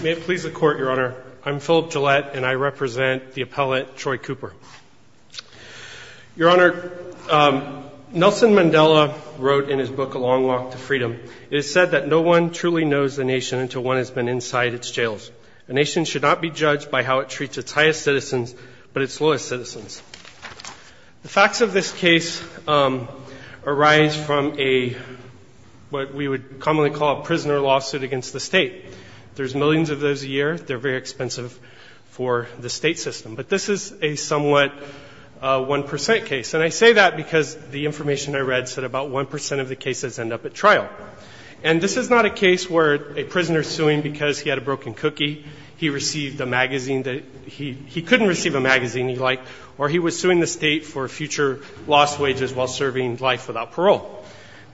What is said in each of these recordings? May it please the Court, Your Honor, I'm Philip Gillette, and I represent the appellate Troy Cooper. Your Honor, Nelson Mandela wrote in his book, A Long Walk to Freedom, it is said that no one truly knows the nation until one has been inside its jails. A nation should not be judged by how it treats its highest citizens, but its lowest citizens. The facts of this case arise from a what we would commonly call a prisoner lawsuit against the state. There's millions of those a year. They're very expensive for the state system. But this is a somewhat 1% case. And I say that because the information I read said about 1% of the cases end up at trial. And this is not a case where a prisoner is suing because he had a broken cookie, he received a magazine that he couldn't receive a magazine he liked, or he was suing the state for future lost wages while serving life without parole.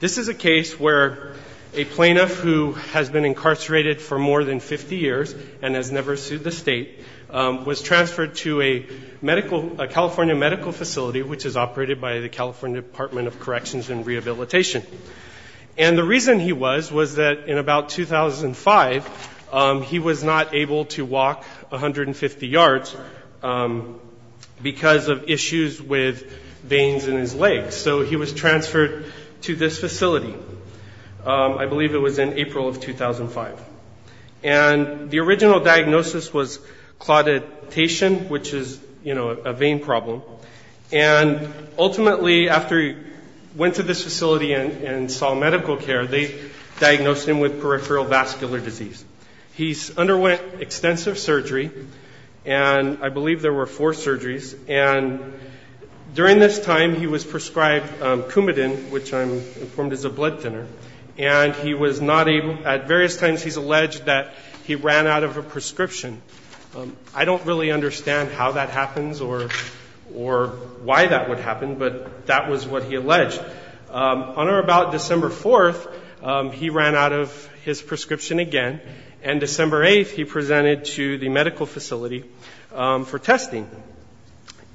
This is a case where a plaintiff who has been incarcerated for more than 50 years and has never sued the state was transferred to a medical, a California medical facility which is operated by the California Department of Corrections and Rehabilitation. And the reason he was, was that in about 2005, he was not able to walk 150 yards because of issues with veins in his legs. So he was transferred to this facility. I believe it was in April of 2005. And the original diagnosis was clauditation, which is, you know, a vein problem. And ultimately after he went to this facility and saw medical care, they diagnosed him with peripheral vascular disease. He underwent extensive surgery. And I believe there were four surgeries. And during this time he was prescribed Coumadin, which I'm informed is a blood thinner. And he was not able, at various times he's alleged that he ran out of a prescription. I don't really understand how that happens or why that would happen, but that was what he alleged. On or about December 4th, he ran out of his prescription again. And December 8th, he presented to the medical facility for testing.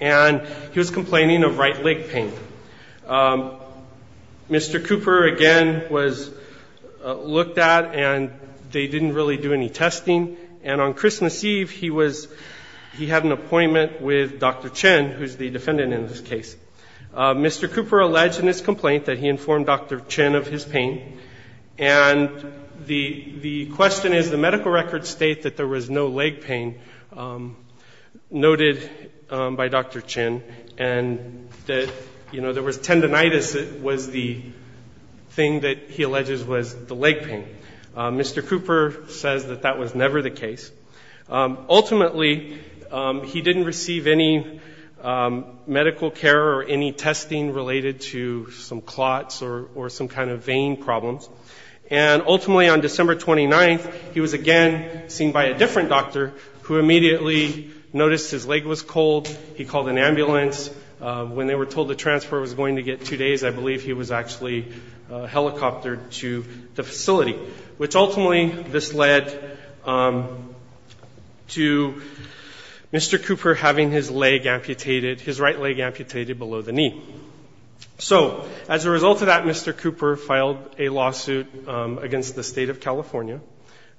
And he was complaining of right leg pain. Mr. Cooper again was looked at and they didn't really do any testing. And on Christmas Eve, he was, he had an appointment with Dr. Chen, who's the defendant in this case. Mr. Cooper alleged in his complaint that he informed Dr. Chen of his pain. And the question is, the medical records state that there was no leg pain noted by Dr. Chen and that, you know, there was tendinitis that was the thing that he alleges was the leg pain. Mr. Cooper says that that was never the case. Ultimately, he didn't receive any medical care or any testing related to some clots or some kind of vein problems. And ultimately on December 29th, he was again seen by a different doctor who immediately noticed his leg was cold. He called an ambulance. When they were told that the transport was going to get two days, I believe he was actually helicoptered to the facility, which ultimately, this led to Mr. Cooper having his leg amputated, his right leg amputated below the knee. So as a result of that, Mr. Cooper filed a lawsuit against the state of California.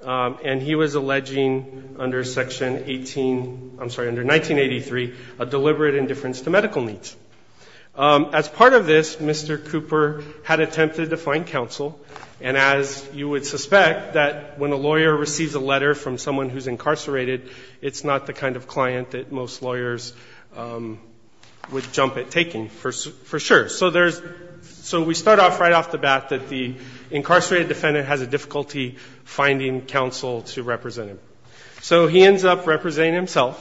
And he was alleging under Section 18, I'm sorry, under 1983, a deliberate indifference to medical needs. As part of this, Mr. Cooper had attempted to find counsel. And as you would suspect, that when a lawyer receives a letter from someone who's incarcerated, it's not the kind of client that most lawyers would jump at taking for sure. So there's, so we start off right off the bat that the incarcerated defendant has a difficulty finding counsel to represent him. So he ends up representing himself.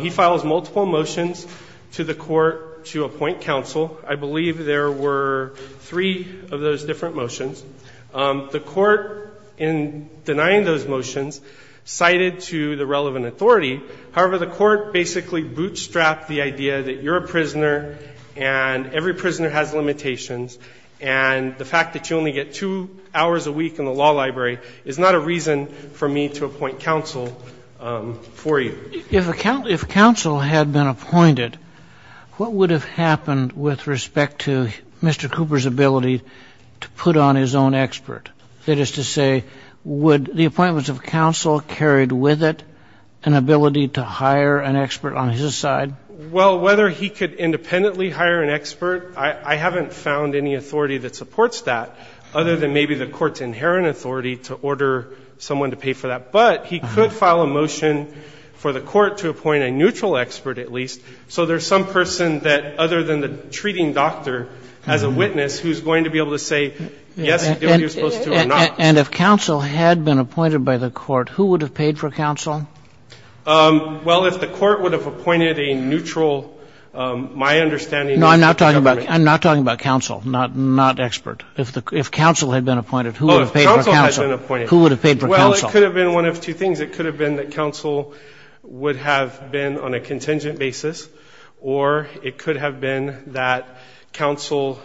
He files multiple motions to the court to appoint counsel. I believe there were three of those different motions. The court, in denying those motions, cited to the relevant authority. However, the court basically bootstrapped the idea that you're a prisoner and every three hours a week in the law library is not a reason for me to appoint counsel for you. If counsel had been appointed, what would have happened with respect to Mr. Cooper's ability to put on his own expert? That is to say, would the appointments of counsel carried with it an ability to hire an expert on his side? Well, whether he could independently hire an expert, I haven't found any authority to order someone to pay for that. But he could file a motion for the court to appoint a neutral expert, at least, so there's some person that, other than the treating doctor, as a witness, who's going to be able to say, yes, you're supposed to or not. And if counsel had been appointed by the court, who would have paid for counsel? Well, if the court would have appointed a neutral, my understanding is that the government No, I'm not talking about counsel, not expert. If counsel had been appointed, who would have paid for counsel? Well, it could have been one of two things. It could have been that counsel would have been on a contingent basis, or it could have been that counsel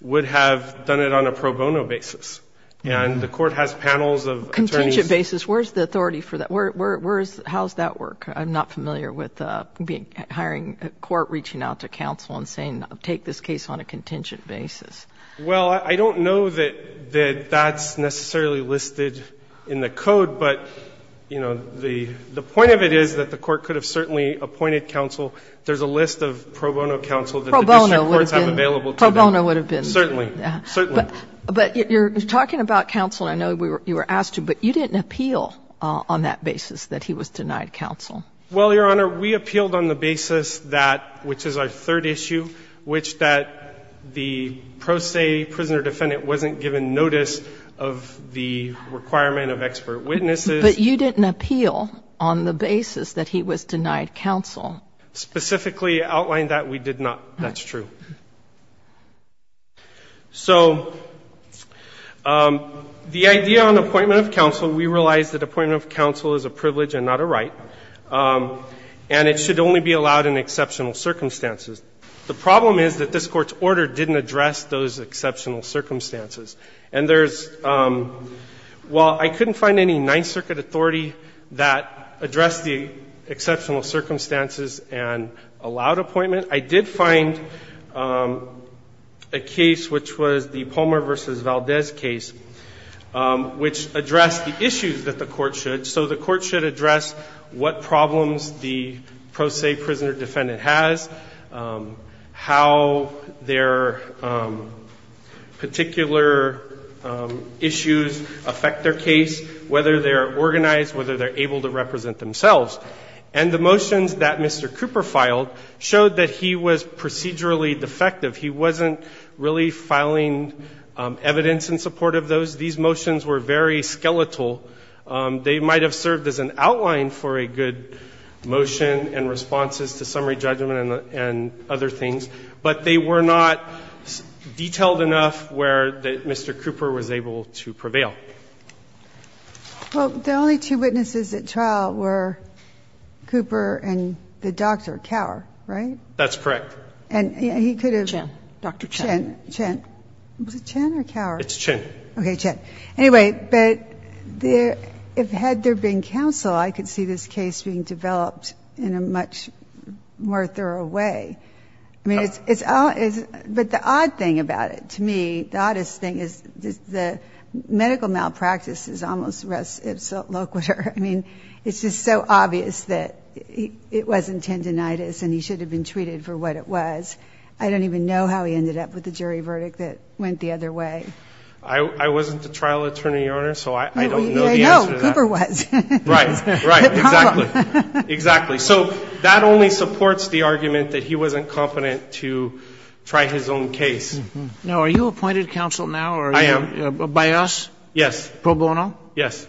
would have done it on a pro bono basis. And the court has panels of attorneys Contingent basis, where's the authority for that? How does that work? I'm not familiar with hiring a court reaching out to counsel and saying, take this case on a contingent basis. Well, I don't know that that's necessarily listed in the code, but, you know, the point of it is that the court could have certainly appointed counsel. There's a list of pro bono counsel that the district courts have available to them. Pro bono would have been. Certainly. But you're talking about counsel, and I know you were asked to, but you didn't appeal on that basis that he was denied counsel. Well, Your Honor, we appealed on the basis that, which is our third issue, which is that the pro se prisoner defendant wasn't given notice of the requirement of expert witnesses. But you didn't appeal on the basis that he was denied counsel. Specifically outlined that we did not. That's true. So the idea on appointment of counsel, we realize that appointment of counsel is a privilege and not a right, and it should only be allowed in exceptional circumstances. The problem is that this Court's order didn't address those exceptional circumstances. And there's – well, I couldn't find any Ninth Circuit authority that addressed the exceptional circumstances and allowed appointment. I did find a case, which was the Palmer v. Valdez case, which addressed the issues that the court should. So the court should address what problems the pro se prisoner defendant has, how their particular issues affect their case, whether they're organized, whether they're able to represent themselves. And the motions that Mr. Cooper filed showed that he was procedurally defective. He wasn't really filing evidence in support of those. These motions were very skeletal. They might have served as an outline for a good motion and responses to summary judgment and other things, but they were not detailed enough where Mr. Cooper was able to prevail. Well, the only two witnesses at trial were Cooper and the doctor, Kaur, right? That's correct. And he could have – Chen. Chen. Was it Chen or Kaur? It's Chen. Okay, Chen. Anyway, but there – had there been counsel, I could see this case being developed in a much more thorough way. I mean, it's – but the odd thing about it, to me, the oddest thing is the medical malpractice is almost res loquitur. I mean, it's just so obvious that it wasn't tendonitis and he should have been treated for what it was. I don't even know how he ended up with a jury verdict that went the other way. I wasn't the trial attorney, Your Honor, so I don't know the answer to that. I know. Cooper was. Right. Right. Exactly. Exactly. So that only supports the argument that he wasn't competent to try his own case. Now, are you appointed counsel now? I am. By us? Yes. Pro bono? Yes.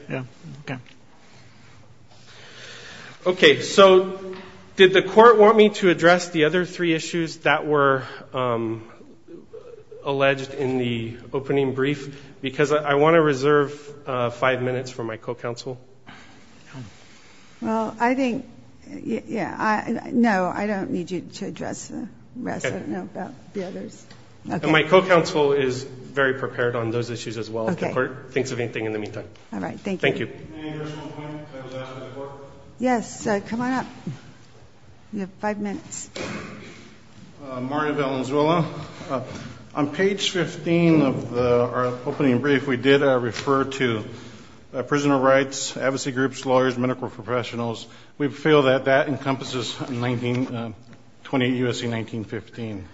Okay. Okay. So did the court want me to address the other three issues that were alleged in the opening brief? Because I want to reserve five minutes for my co-counsel. Well, I think – yeah. No, I don't need you to address the rest. Okay. I don't know about the others. Okay. And my co-counsel is very prepared on those issues as well. Okay. If the court thinks of anything in the meantime. All right. Thank you. Thank you. Any additional points that was asked of the court? Yes. Come on up. You have five minutes. Mario Valenzuela. On page 15 of our opening brief, we did refer to prisoner rights, advocacy groups, lawyers, medical professionals. We feel that that encompasses 28 U.S.C. 1915.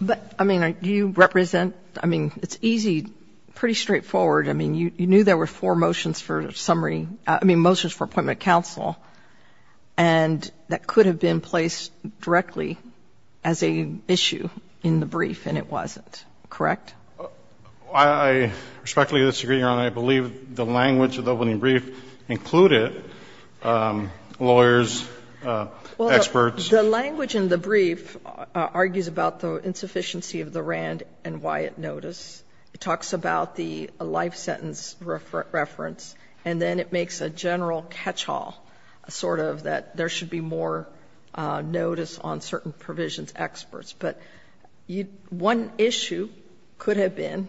But, I mean, do you represent – I mean, it's easy, pretty straightforward. I mean, you knew there were four motions for summary – I mean, motions for appointment counsel, and that could have been placed directly as a issue in the brief, and it wasn't. Correct? I respectfully disagree, Your Honor. I believe the language of the opening brief included lawyers, experts. Well, the language in the brief argues about the insufficiency of the Rand and Wyatt notice. It talks about the life sentence reference, and then it makes a general catch-all sort of that there should be more notice on certain provisions, experts. But one issue could have been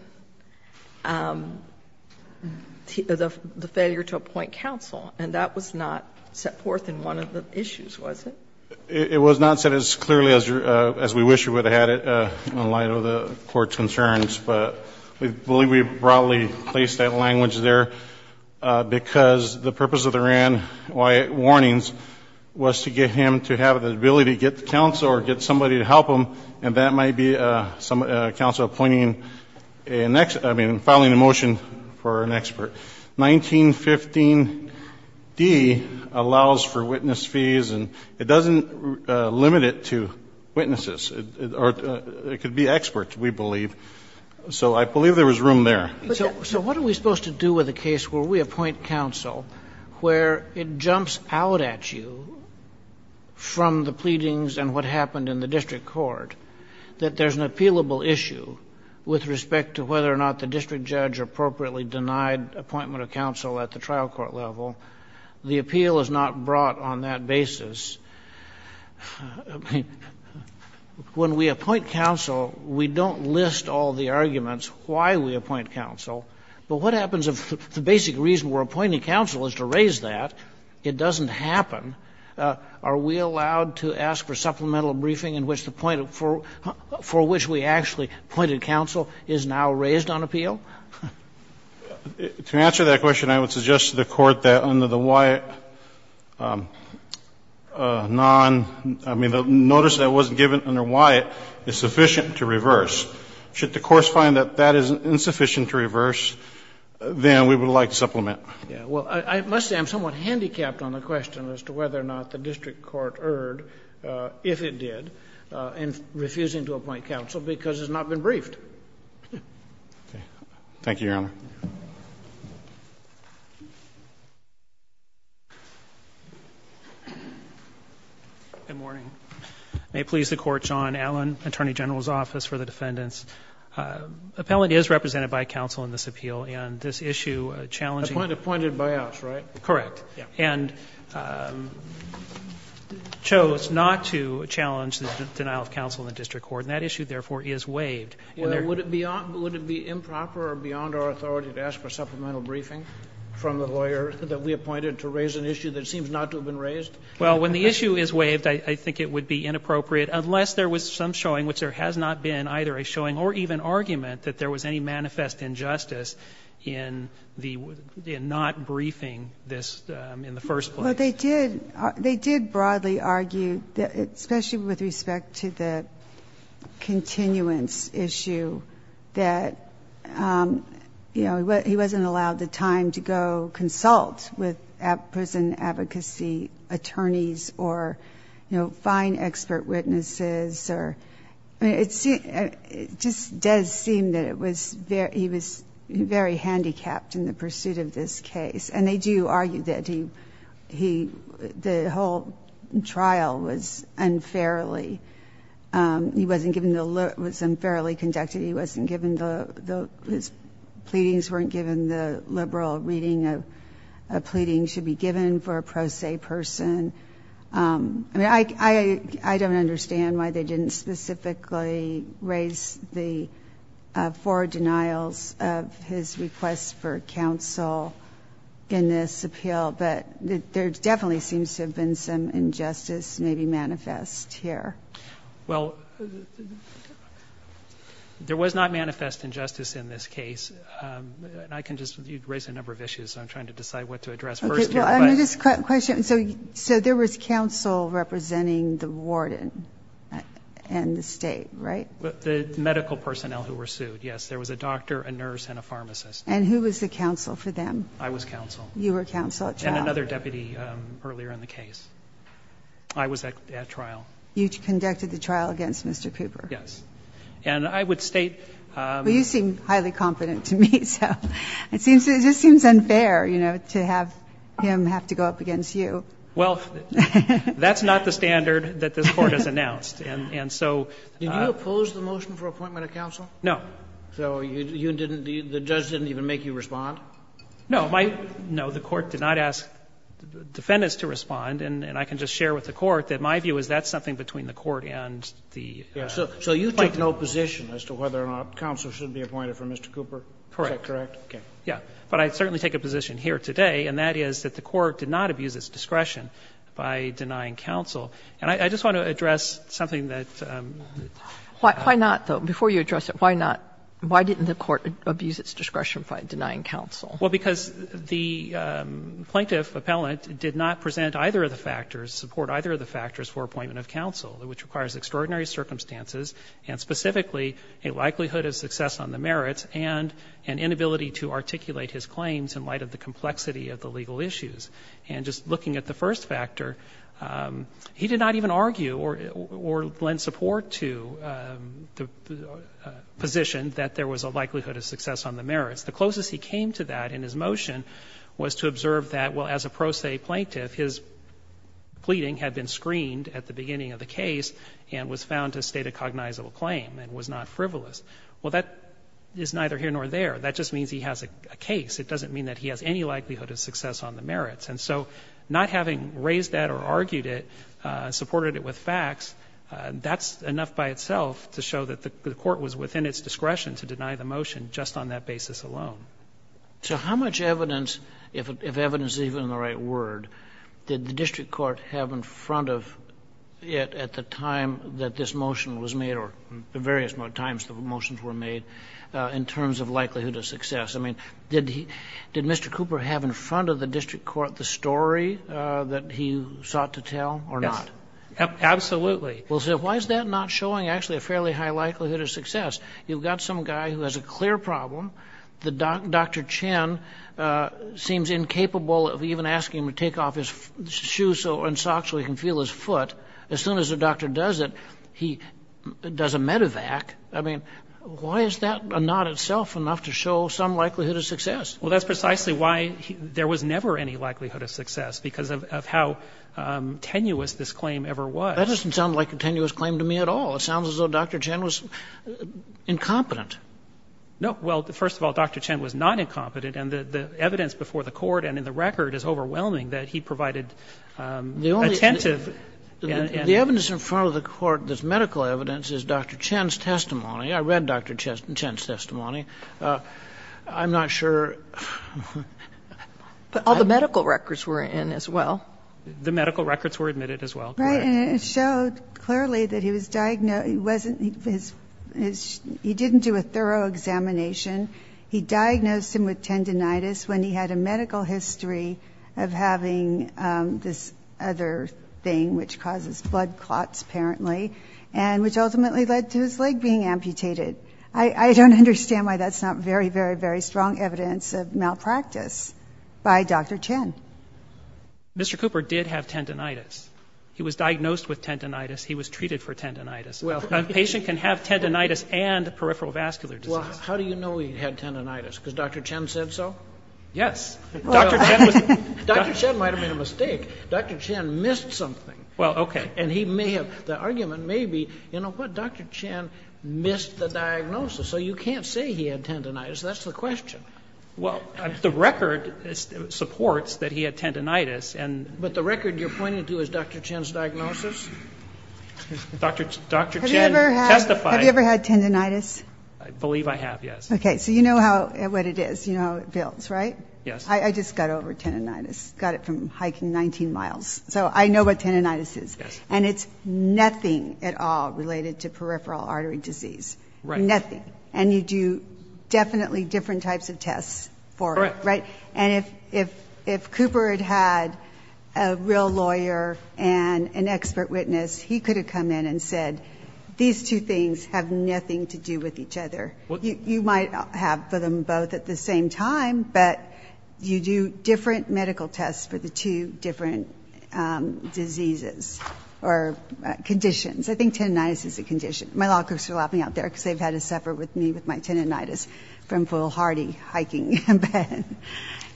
the failure to appoint counsel, and that was not set forth in one of the issues, was it? It was not set as clearly as we wish we would have had it in light of the Court's ruling, but we believe we broadly placed that language there because the purpose of the Rand-Wyatt warnings was to get him to have the ability to get the counsel or get somebody to help him, and that might be a counsel appointing – I mean, filing a motion for an expert. 1915d allows for witness fees, and it doesn't limit it to witnesses. It could be experts, we believe. So I believe there was room there. So what are we supposed to do with a case where we appoint counsel, where it jumps out at you from the pleadings and what happened in the district court that there's an appealable issue with respect to whether or not the district judge appropriately denied appointment of counsel at the trial court level? The appeal is not brought on that basis. When we appoint counsel, we don't list all the arguments why we appoint counsel. But what happens if the basic reason we're appointing counsel is to raise that? It doesn't happen. Are we allowed to ask for supplemental briefing in which the point for which we actually appointed counsel is now raised on appeal? To answer that question, I would suggest to the Court that under the Wyatt non – I mean, the notice that wasn't given under Wyatt is sufficient to reverse. Should the courts find that that is insufficient to reverse, then we would like to supplement. Yeah. Well, I must say I'm somewhat handicapped on the question as to whether or not the district court erred, if it did, in refusing to appoint counsel because it's not been briefed. Okay. Thank you, Your Honor. Good morning. May it please the Court, John Allen, Attorney General's Office for the Defendants. Appellant is represented by counsel in this appeal, and this issue challenging Appointed by us, right? Correct. Yeah. And chose not to challenge the denial of counsel in the district court, and that issue, therefore, is waived. Would it be improper or beyond our authority to ask for supplemental briefing from the lawyer that we appointed to raise an issue that seems not to have been raised? Well, when the issue is waived, I think it would be inappropriate, unless there was some showing, which there has not been, either a showing or even argument that there was any manifest injustice in not briefing this in the first place. Well, they did. They did broadly argue, especially with respect to the continuance issue, that, you know, he wasn't allowed the time to go consult with prison advocacy attorneys or, you know, find expert witnesses or, I mean, it just does seem that it was very he was very handicapped in the pursuit of this case. And they do argue that he, the whole trial was unfairly, he wasn't given the, it was unfairly conducted, he wasn't given the, his pleadings weren't given, the liberal reading of pleadings should be given for a pro se person. I mean, I don't understand why they didn't specifically raise the four denials of his request for counsel in this appeal. But there definitely seems to have been some injustice maybe manifest here. Well, there was not manifest injustice in this case. And I can just, you raised a number of issues, so I'm trying to decide what to address first here. Okay, well, I know this question, so there was counsel representing the warden and the State, right? The medical personnel who were sued, yes. There was a doctor, a nurse, and a pharmacist. And who was the counsel for them? I was counsel. You were counsel at trial. And another deputy earlier in the case. I was at trial. You conducted the trial against Mr. Cooper? Yes. And I would state. Well, you seem highly confident to me, so it seems, it just seems unfair, you know, to have him have to go up against you. Well, that's not the standard that this Court has announced. And so. Did you oppose the motion for appointment of counsel? No. So you didn't, the judge didn't even make you respond? No. No, the Court did not ask the defendants to respond. And I can just share with the Court that my view is that's something between the Court and the. So you take no position as to whether or not counsel should be appointed for Mr. Cooper? Correct. Is that correct? Okay. Yes. But I certainly take a position here today, and that is that the Court did not abuse its discretion by denying counsel. And I just want to address something that. Why not, though? Before you address it, why not? Why didn't the Court abuse its discretion by denying counsel? Well, because the plaintiff appellant did not present either of the factors, support either of the factors for appointment of counsel, which requires extraordinary circumstances and specifically a likelihood of success on the merits and an inability to articulate his claims in light of the complexity of the legal issues. And just looking at the first factor, he did not even argue or lend support to the position that there was a likelihood of success on the merits. The closest he came to that in his motion was to observe that, well, as a pro se plaintiff, his pleading had been screened at the beginning of the case and was found to state a cognizable claim and was not frivolous. Well, that is neither here nor there. That just means he has a case. It doesn't mean that he has any likelihood of success on the merits. And so not having raised that or argued it, supported it with facts, that's enough by itself to show that the Court was within its discretion to deny the motion just on that basis alone. So how much evidence, if evidence is even the right word, did the district court have in front of it at the time that this motion was made or the various times the motions were made in terms of likelihood of success? I mean, did Mr. Cooper have in front of the district court the story that he sought to tell or not? Yes. Absolutely. Well, so why is that not showing actually a fairly high likelihood of success? You've got some guy who has a clear problem. Dr. Chen seems incapable of even asking him to take off his shoes and socks so he can feel his foot. As soon as the doctor does it, he does a medivac. I mean, why is that not itself enough to show some likelihood of success? Well, that's precisely why there was never any likelihood of success, because of how tenuous this claim ever was. That doesn't sound like a tenuous claim to me at all. It sounds as though Dr. Chen was incompetent. No. Well, first of all, Dr. Chen was not incompetent. And the evidence before the Court and in the record is overwhelming that he provided attentive and the evidence in front of the Court that's medical evidence is Dr. Chen's testimony. I read Dr. Chen's testimony. I'm not sure. But all the medical records were in as well. The medical records were admitted as well. Right. And it showed clearly that he was diagnosed. He didn't do a thorough examination. He diagnosed him with tendinitis when he had a medical history of having this other thing, which causes blood clots, apparently, and which ultimately led to his leg being amputated. I don't understand why that's not very, very, very strong evidence of malpractice by Dr. Chen. Mr. Cooper did have tendinitis. He was diagnosed with tendinitis. He was treated for tendinitis. A patient can have tendinitis and peripheral vascular disease. Well, how do you know he had tendinitis? Because Dr. Chen said so? Yes. Dr. Chen was the doctor. Dr. Chen might have made a mistake. Dr. Chen missed something. Well, okay. And he may have, the argument may be, you know what, Dr. Chen missed the diagnosis. So you can't say he had tendinitis. That's the question. Well, the record supports that he had tendinitis. But the record you're pointing to is Dr. Chen's diagnosis? Dr. Chen testified. Have you ever had tendinitis? I believe I have, yes. Okay. So you know what it is. You know how it builds, right? Yes. I just got over tendinitis. Got it from hiking 19 miles. So I know what tendinitis is. Yes. And it's nothing at all related to peripheral artery disease. Right. Nothing. And you do definitely different types of tests for it, right? Correct. And if Cooper had had a real lawyer and an expert witness, he could have come in and said, these two things have nothing to do with each other. You might have them both at the same time, but you do different medical tests for the two different diseases or conditions. I think tendinitis is a condition. My law clerks are laughing out there because they've had to suffer with me with my tendinitis from foolhardy hiking.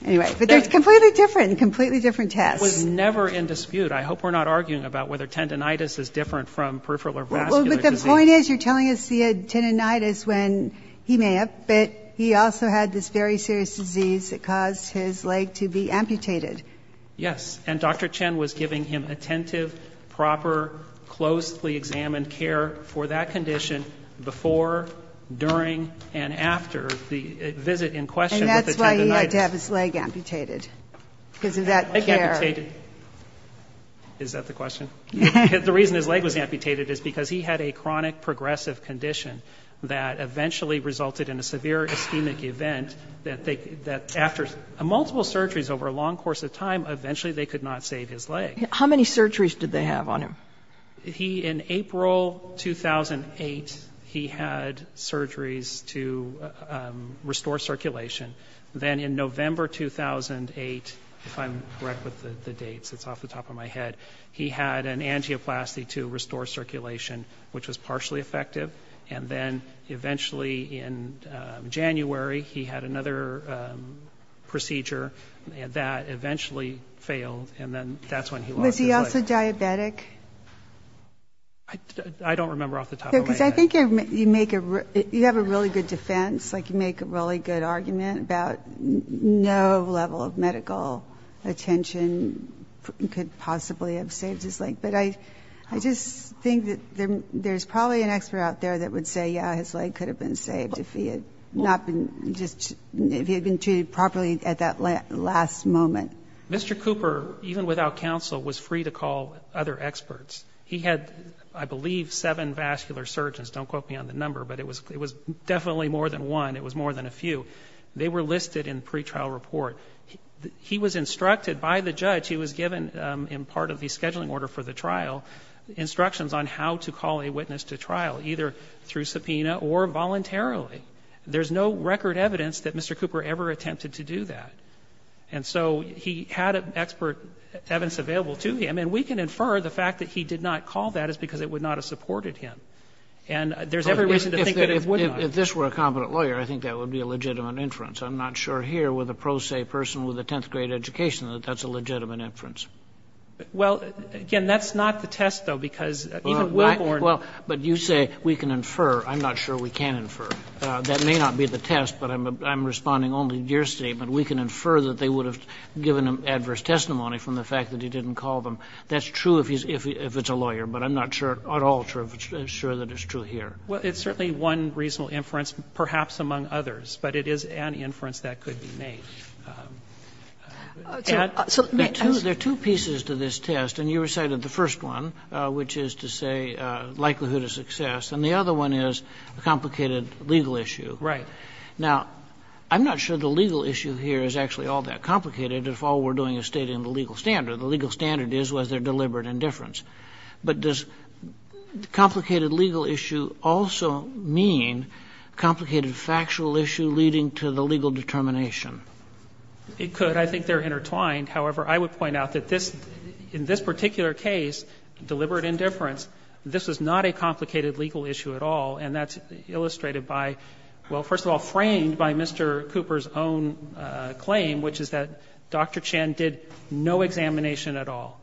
Anyway, but they're completely different, completely different tests. I was never in dispute. I hope we're not arguing about whether tendinitis is different from peripheral or vascular disease. The point is you're telling us the tendinitis when he may have, but he also had this very serious disease that caused his leg to be amputated. Yes. And Dr. Chen was giving him attentive, proper, closely examined care for that condition before, during, and after the visit in question with the tendinitis. And that's why he had to have his leg amputated because of that care. Leg amputated. Is that the question? The reason his leg was amputated is because he had a chronic progressive condition that eventually resulted in a severe ischemic event that after multiple surgeries over a long course of time, eventually they could not save his leg. How many surgeries did they have on him? He, in April 2008, he had surgeries to restore circulation. Then in November 2008, if I'm correct with the dates, it's off the top of my head, but he had an angioplasty to restore circulation, which was partially effective. And then eventually in January, he had another procedure, and that eventually failed, and then that's when he lost his leg. Was he also diabetic? I don't remember off the top of my head. Because I think you have a really good defense, like you make a really good argument about no level of medical attention could possibly have saved his leg. But I just think that there's probably an expert out there that would say, yeah, his leg could have been saved if he had not been just, if he had been treated properly at that last moment. Mr. Cooper, even without counsel, was free to call other experts. He had, I believe, seven vascular surgeons. Don't quote me on the number, but it was definitely more than one. It was more than a few. They were listed in pretrial report. He was instructed by the judge, he was given in part of the scheduling order for the trial, instructions on how to call a witness to trial, either through subpoena or voluntarily. There's no record evidence that Mr. Cooper ever attempted to do that. And so he had expert evidence available to him, and we can infer the fact that he did not call that is because it would not have supported him. And there's every reason to think that it would not. If this were a competent lawyer, I think that would be a legitimate inference. I'm not sure here with a pro se person with a 10th grade education that that's a legitimate inference. Well, again, that's not the test, though, because even Wilborn. Well, but you say we can infer. I'm not sure we can infer. That may not be the test, but I'm responding only to your statement. We can infer that they would have given him adverse testimony from the fact that he didn't call them. That's true if it's a lawyer, but I'm not sure at all sure that it's true here. Well, it's certainly one reasonable inference, perhaps among others. But it is an inference that could be made. And there are two pieces to this test. And you recited the first one, which is to say likelihood of success. And the other one is a complicated legal issue. Right. Now, I'm not sure the legal issue here is actually all that complicated if all we're doing is stating the legal standard. The legal standard is was there deliberate indifference. But does complicated legal issue also mean complicated factual issue leading to the legal determination? It could. I think they're intertwined. However, I would point out that this, in this particular case, deliberate indifference, this was not a complicated legal issue at all. And that's illustrated by, well, first of all, framed by Mr. Cooper's own claim, which is that Dr. Chan did no examination at all.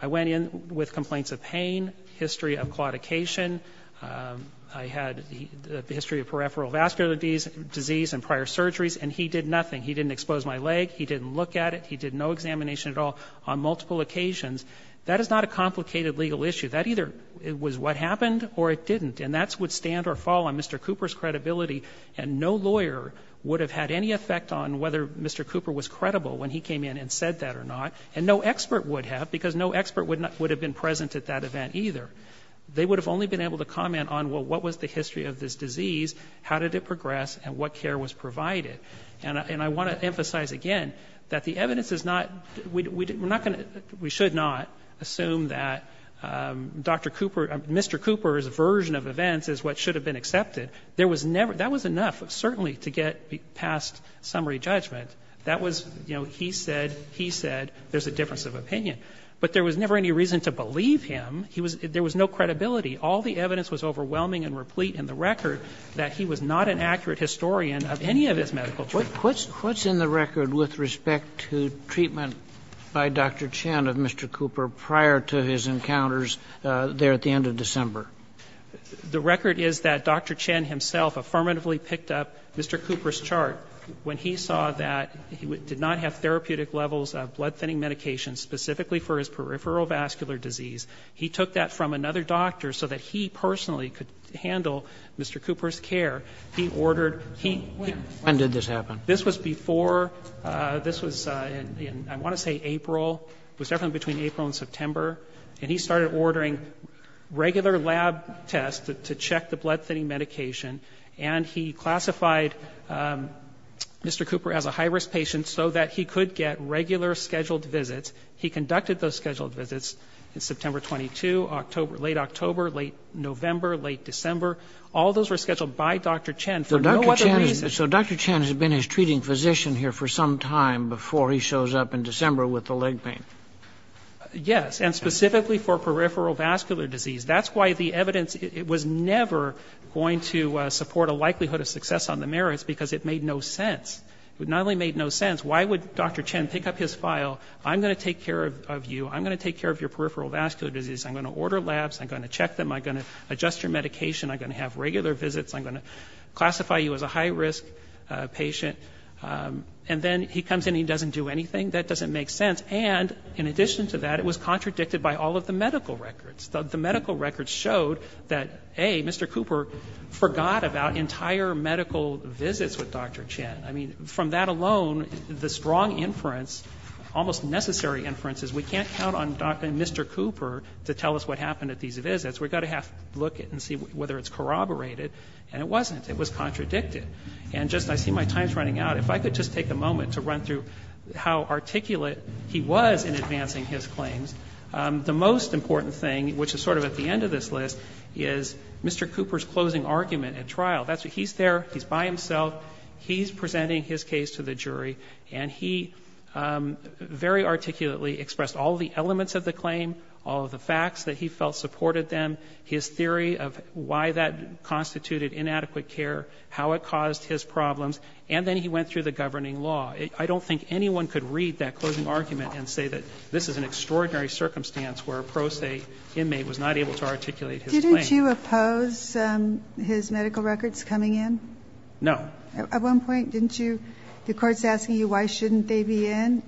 I went in with complaints of pain, history of claudication. I had the history of peripheral vascular disease and prior surgeries. And he did nothing. He didn't expose my leg. He didn't look at it. He did no examination at all on multiple occasions. That is not a complicated legal issue. That either was what happened or it didn't. And that would stand or fall on Mr. Cooper's credibility. And no lawyer would have had any effect on whether Mr. Cooper was credible when he came in and said that or not. And no expert would have, because no expert would have been present at that event either. They would have only been able to comment on, well, what was the history of this disease, how did it progress, and what care was provided. And I want to emphasize again that the evidence is not, we're not going to, we should not assume that Dr. Cooper, Mr. Cooper's version of events is what should have been accepted. There was never, that was enough certainly to get past summary judgment. That was, you know, he said, he said, there's a difference of opinion. But there was never any reason to believe him. He was, there was no credibility. All the evidence was overwhelming and replete in the record that he was not an accurate historian of any of his medical trials. Kennedy. Kagan. Kagan. Kagan. Kagan. Kagan. Kagan. Kagan. Kagan. Kagan. Kagan. Kagan. Kagan. Kagan. Kagan. Kagan. Kagan. Kagan. When he saw that he did not have therapeutic levels of blood thinning medications, specifically for his peripheral vascular disease, he took that from another doctor so that he personally could handle Mr. Cooper's care. He ordered, he... When did this happen? This was before this was in, I want to say, April. It was definitely between April and September. And he started ordering regular lab tests to check the blood thinning medication. And he classified Mr. Cooper as a high-risk patient so that he could get regular scheduled visits. He conducted those scheduled visits in September 22, October, late October, late November, late December. All those were scheduled by Dr. Chen for no other reason. So Dr. Chen has been his treating physician here for some time before he shows up in December with the leg pain. Yes, and specifically for peripheral vascular disease. That's why the evidence was never going to support a likelihood of success on the merits, because it made no sense. It not only made no sense. Why would Dr. Chen pick up his file? I'm going to take care of you. I'm going to take care of your peripheral vascular disease. I'm going to order labs. I'm going to check them. I'm going to adjust your medication. I'm going to have regular visits. I'm going to classify you as a high-risk patient. And then he comes in and he doesn't do anything. That doesn't make sense. And in addition to that, it was contradicted by all of the medical records. The medical records showed that, A, Mr. Cooper forgot about entire medical visits with Dr. Chen. I mean, from that alone, the strong inference, almost necessary inference, is we can't count on Dr. and Mr. Cooper to tell us what happened at these visits. We've got to have to look and see whether it's corroborated. And it wasn't. It was contradicted. And just, I see my time's running out. If I could just take a moment to run through how articulate he was in advancing his claims, the most important thing, which is sort of at the end of this list, is Mr. Cooper's closing argument at trial. He's there. He's by himself. He's presenting his case to the jury. And he very articulately expressed all of the elements of the claim, all of the facts that he felt supported them, his theory of why that constituted inadequate care, how it caused his problems. And then he went through the governing law. I don't think anyone could read that closing argument and say that this is an extraordinary circumstance where a pro se inmate was not able to articulate his claim. Didn't you oppose his medical records coming in? No. At one point, didn't you? The Court's asking you why shouldn't they be in,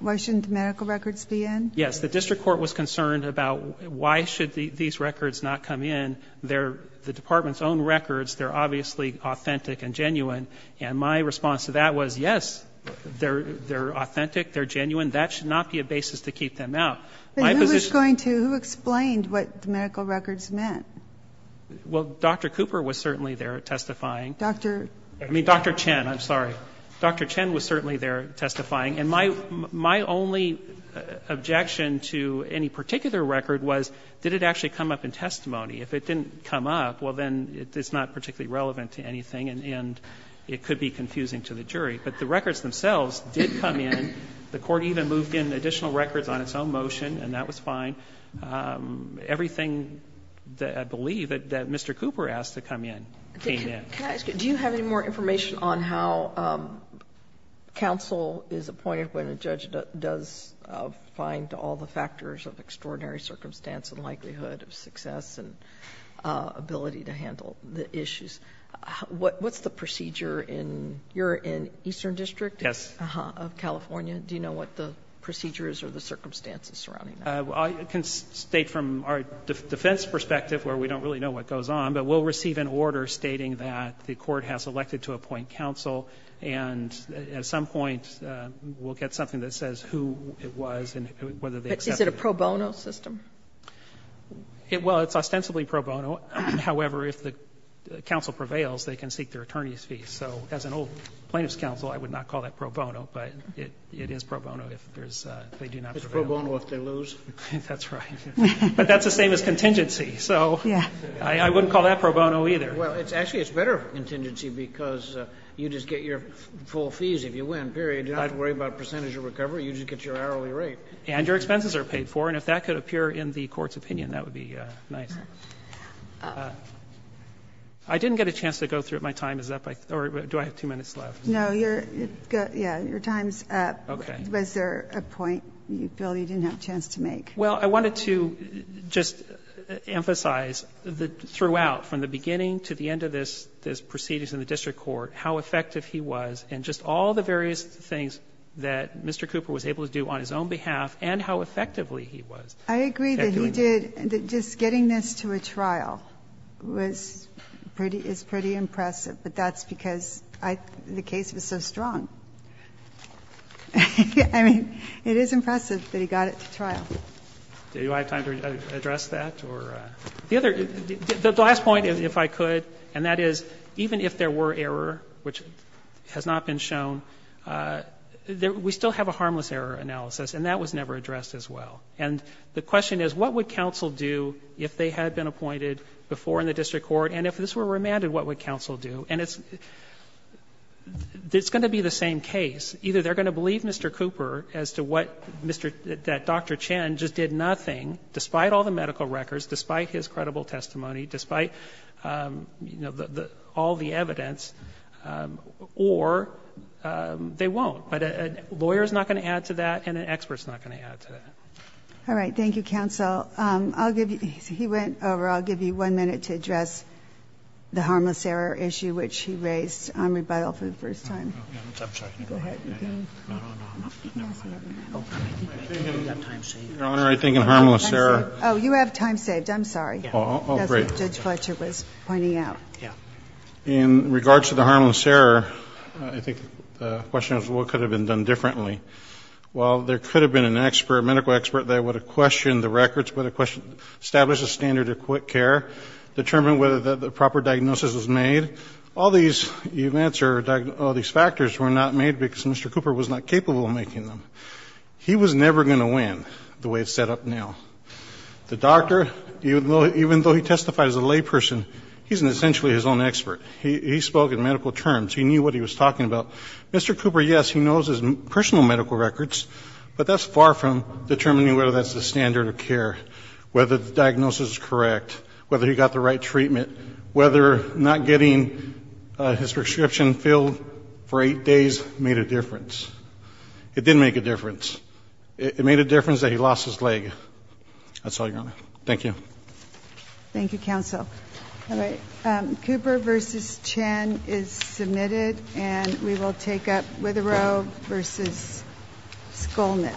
why shouldn't the medical records be in? Yes. The district court was concerned about why should these records not come in. They're the Department's own records. They're obviously authentic and genuine. And my response to that was, yes, they're authentic, they're genuine. That should not be a basis to keep them out. But who was going to, who explained what the medical records meant? Well, Dr. Cooper was certainly there testifying. Dr. I mean, Dr. Chen. I'm sorry. Dr. Chen was certainly there testifying. And my only objection to any particular record was did it actually come up in testimony? If it didn't come up, well, then it's not particularly relevant to anything and it could be confusing to the jury. But the records themselves did come in. The Court even moved in additional records on its own motion, and that was fine. Everything that I believe that Mr. Cooper asked to come in came in. Do you have any more information on how counsel is appointed when a judge does find extraordinary circumstance and likelihood of success and ability to handle the issues? What's the procedure in your eastern district? Yes. Of California? Do you know what the procedure is or the circumstances surrounding that? I can state from our defense perspective, where we don't really know what goes on, but we'll receive an order stating that the Court has elected to appoint counsel. And at some point we'll get something that says who it was and whether they accepted it. But is it a pro bono system? Well, it's ostensibly pro bono. However, if the counsel prevails, they can seek their attorney's fees. So as an old plaintiff's counsel, I would not call that pro bono. But it is pro bono if there's they do not prevail. It's pro bono if they lose. That's right. But that's the same as contingency. So I wouldn't call that pro bono either. Well, actually, it's better contingency because you just get your full fees if you win, period. You don't have to worry about percentage of recovery. You just get your hourly rate. And your expenses are paid for. And if that could appear in the Court's opinion, that would be nice. I didn't get a chance to go through it. My time is up. Or do I have two minutes left? No. Your time is up. Okay. Was there a point, Bill, you didn't have a chance to make? Well, I wanted to just emphasize throughout, from the beginning to the end of this proceedings in the district court, how effective he was and just all the various things that Mr. Cooper was able to do on his own behalf and how effectively he was. I agree that he did. Just getting this to a trial was pretty impressive. But that's because the case was so strong. I mean, it is impressive that he got it to trial. Do I have time to address that? The last point, if I could, and that is, even if there were error, which has not been shown, we still have a harmless error analysis, and that was never addressed as well. And the question is, what would counsel do if they had been appointed before in the district court? And if this were remanded, what would counsel do? And it's going to be the same case. Either they're going to believe Mr. Cooper as to what Dr. Chen just did nothing, despite all the medical records, despite his credible testimony, despite all the evidence, or they won't. But a lawyer is not going to add to that and an expert is not going to add to that. All right. Thank you, counsel. He went over. I'll give you one minute to address the harmless error issue, which he raised on rebuttal for the first time. Your Honor, I think in harmless error. Oh, you have time saved. I'm sorry. That's what Judge Fletcher was pointing out. In regards to the harmless error, I think the question is, what could have been done differently? Well, there could have been an expert, a medical expert that would have questioned the records, would have established a standard of quick care, determined whether the proper diagnosis was made. All these events or all these factors were not made because Mr. Cooper was not capable of making them. He was never going to win the way it's set up now. The doctor, even though he testified as a layperson, he's essentially his own expert. He spoke in medical terms. He knew what he was talking about. Mr. Cooper, yes, he knows his personal medical records, but that's far from determining whether that's the standard of care, whether the diagnosis is correct, whether he got the right treatment, whether not getting his prescription filled for eight days made a difference. It didn't make a difference. It made a difference that he lost his leg. That's all, Your Honor. Thank you. Thank you, counsel. All right. Cooper v. Chen is submitted, and we will take up Witherow v. Skolnick.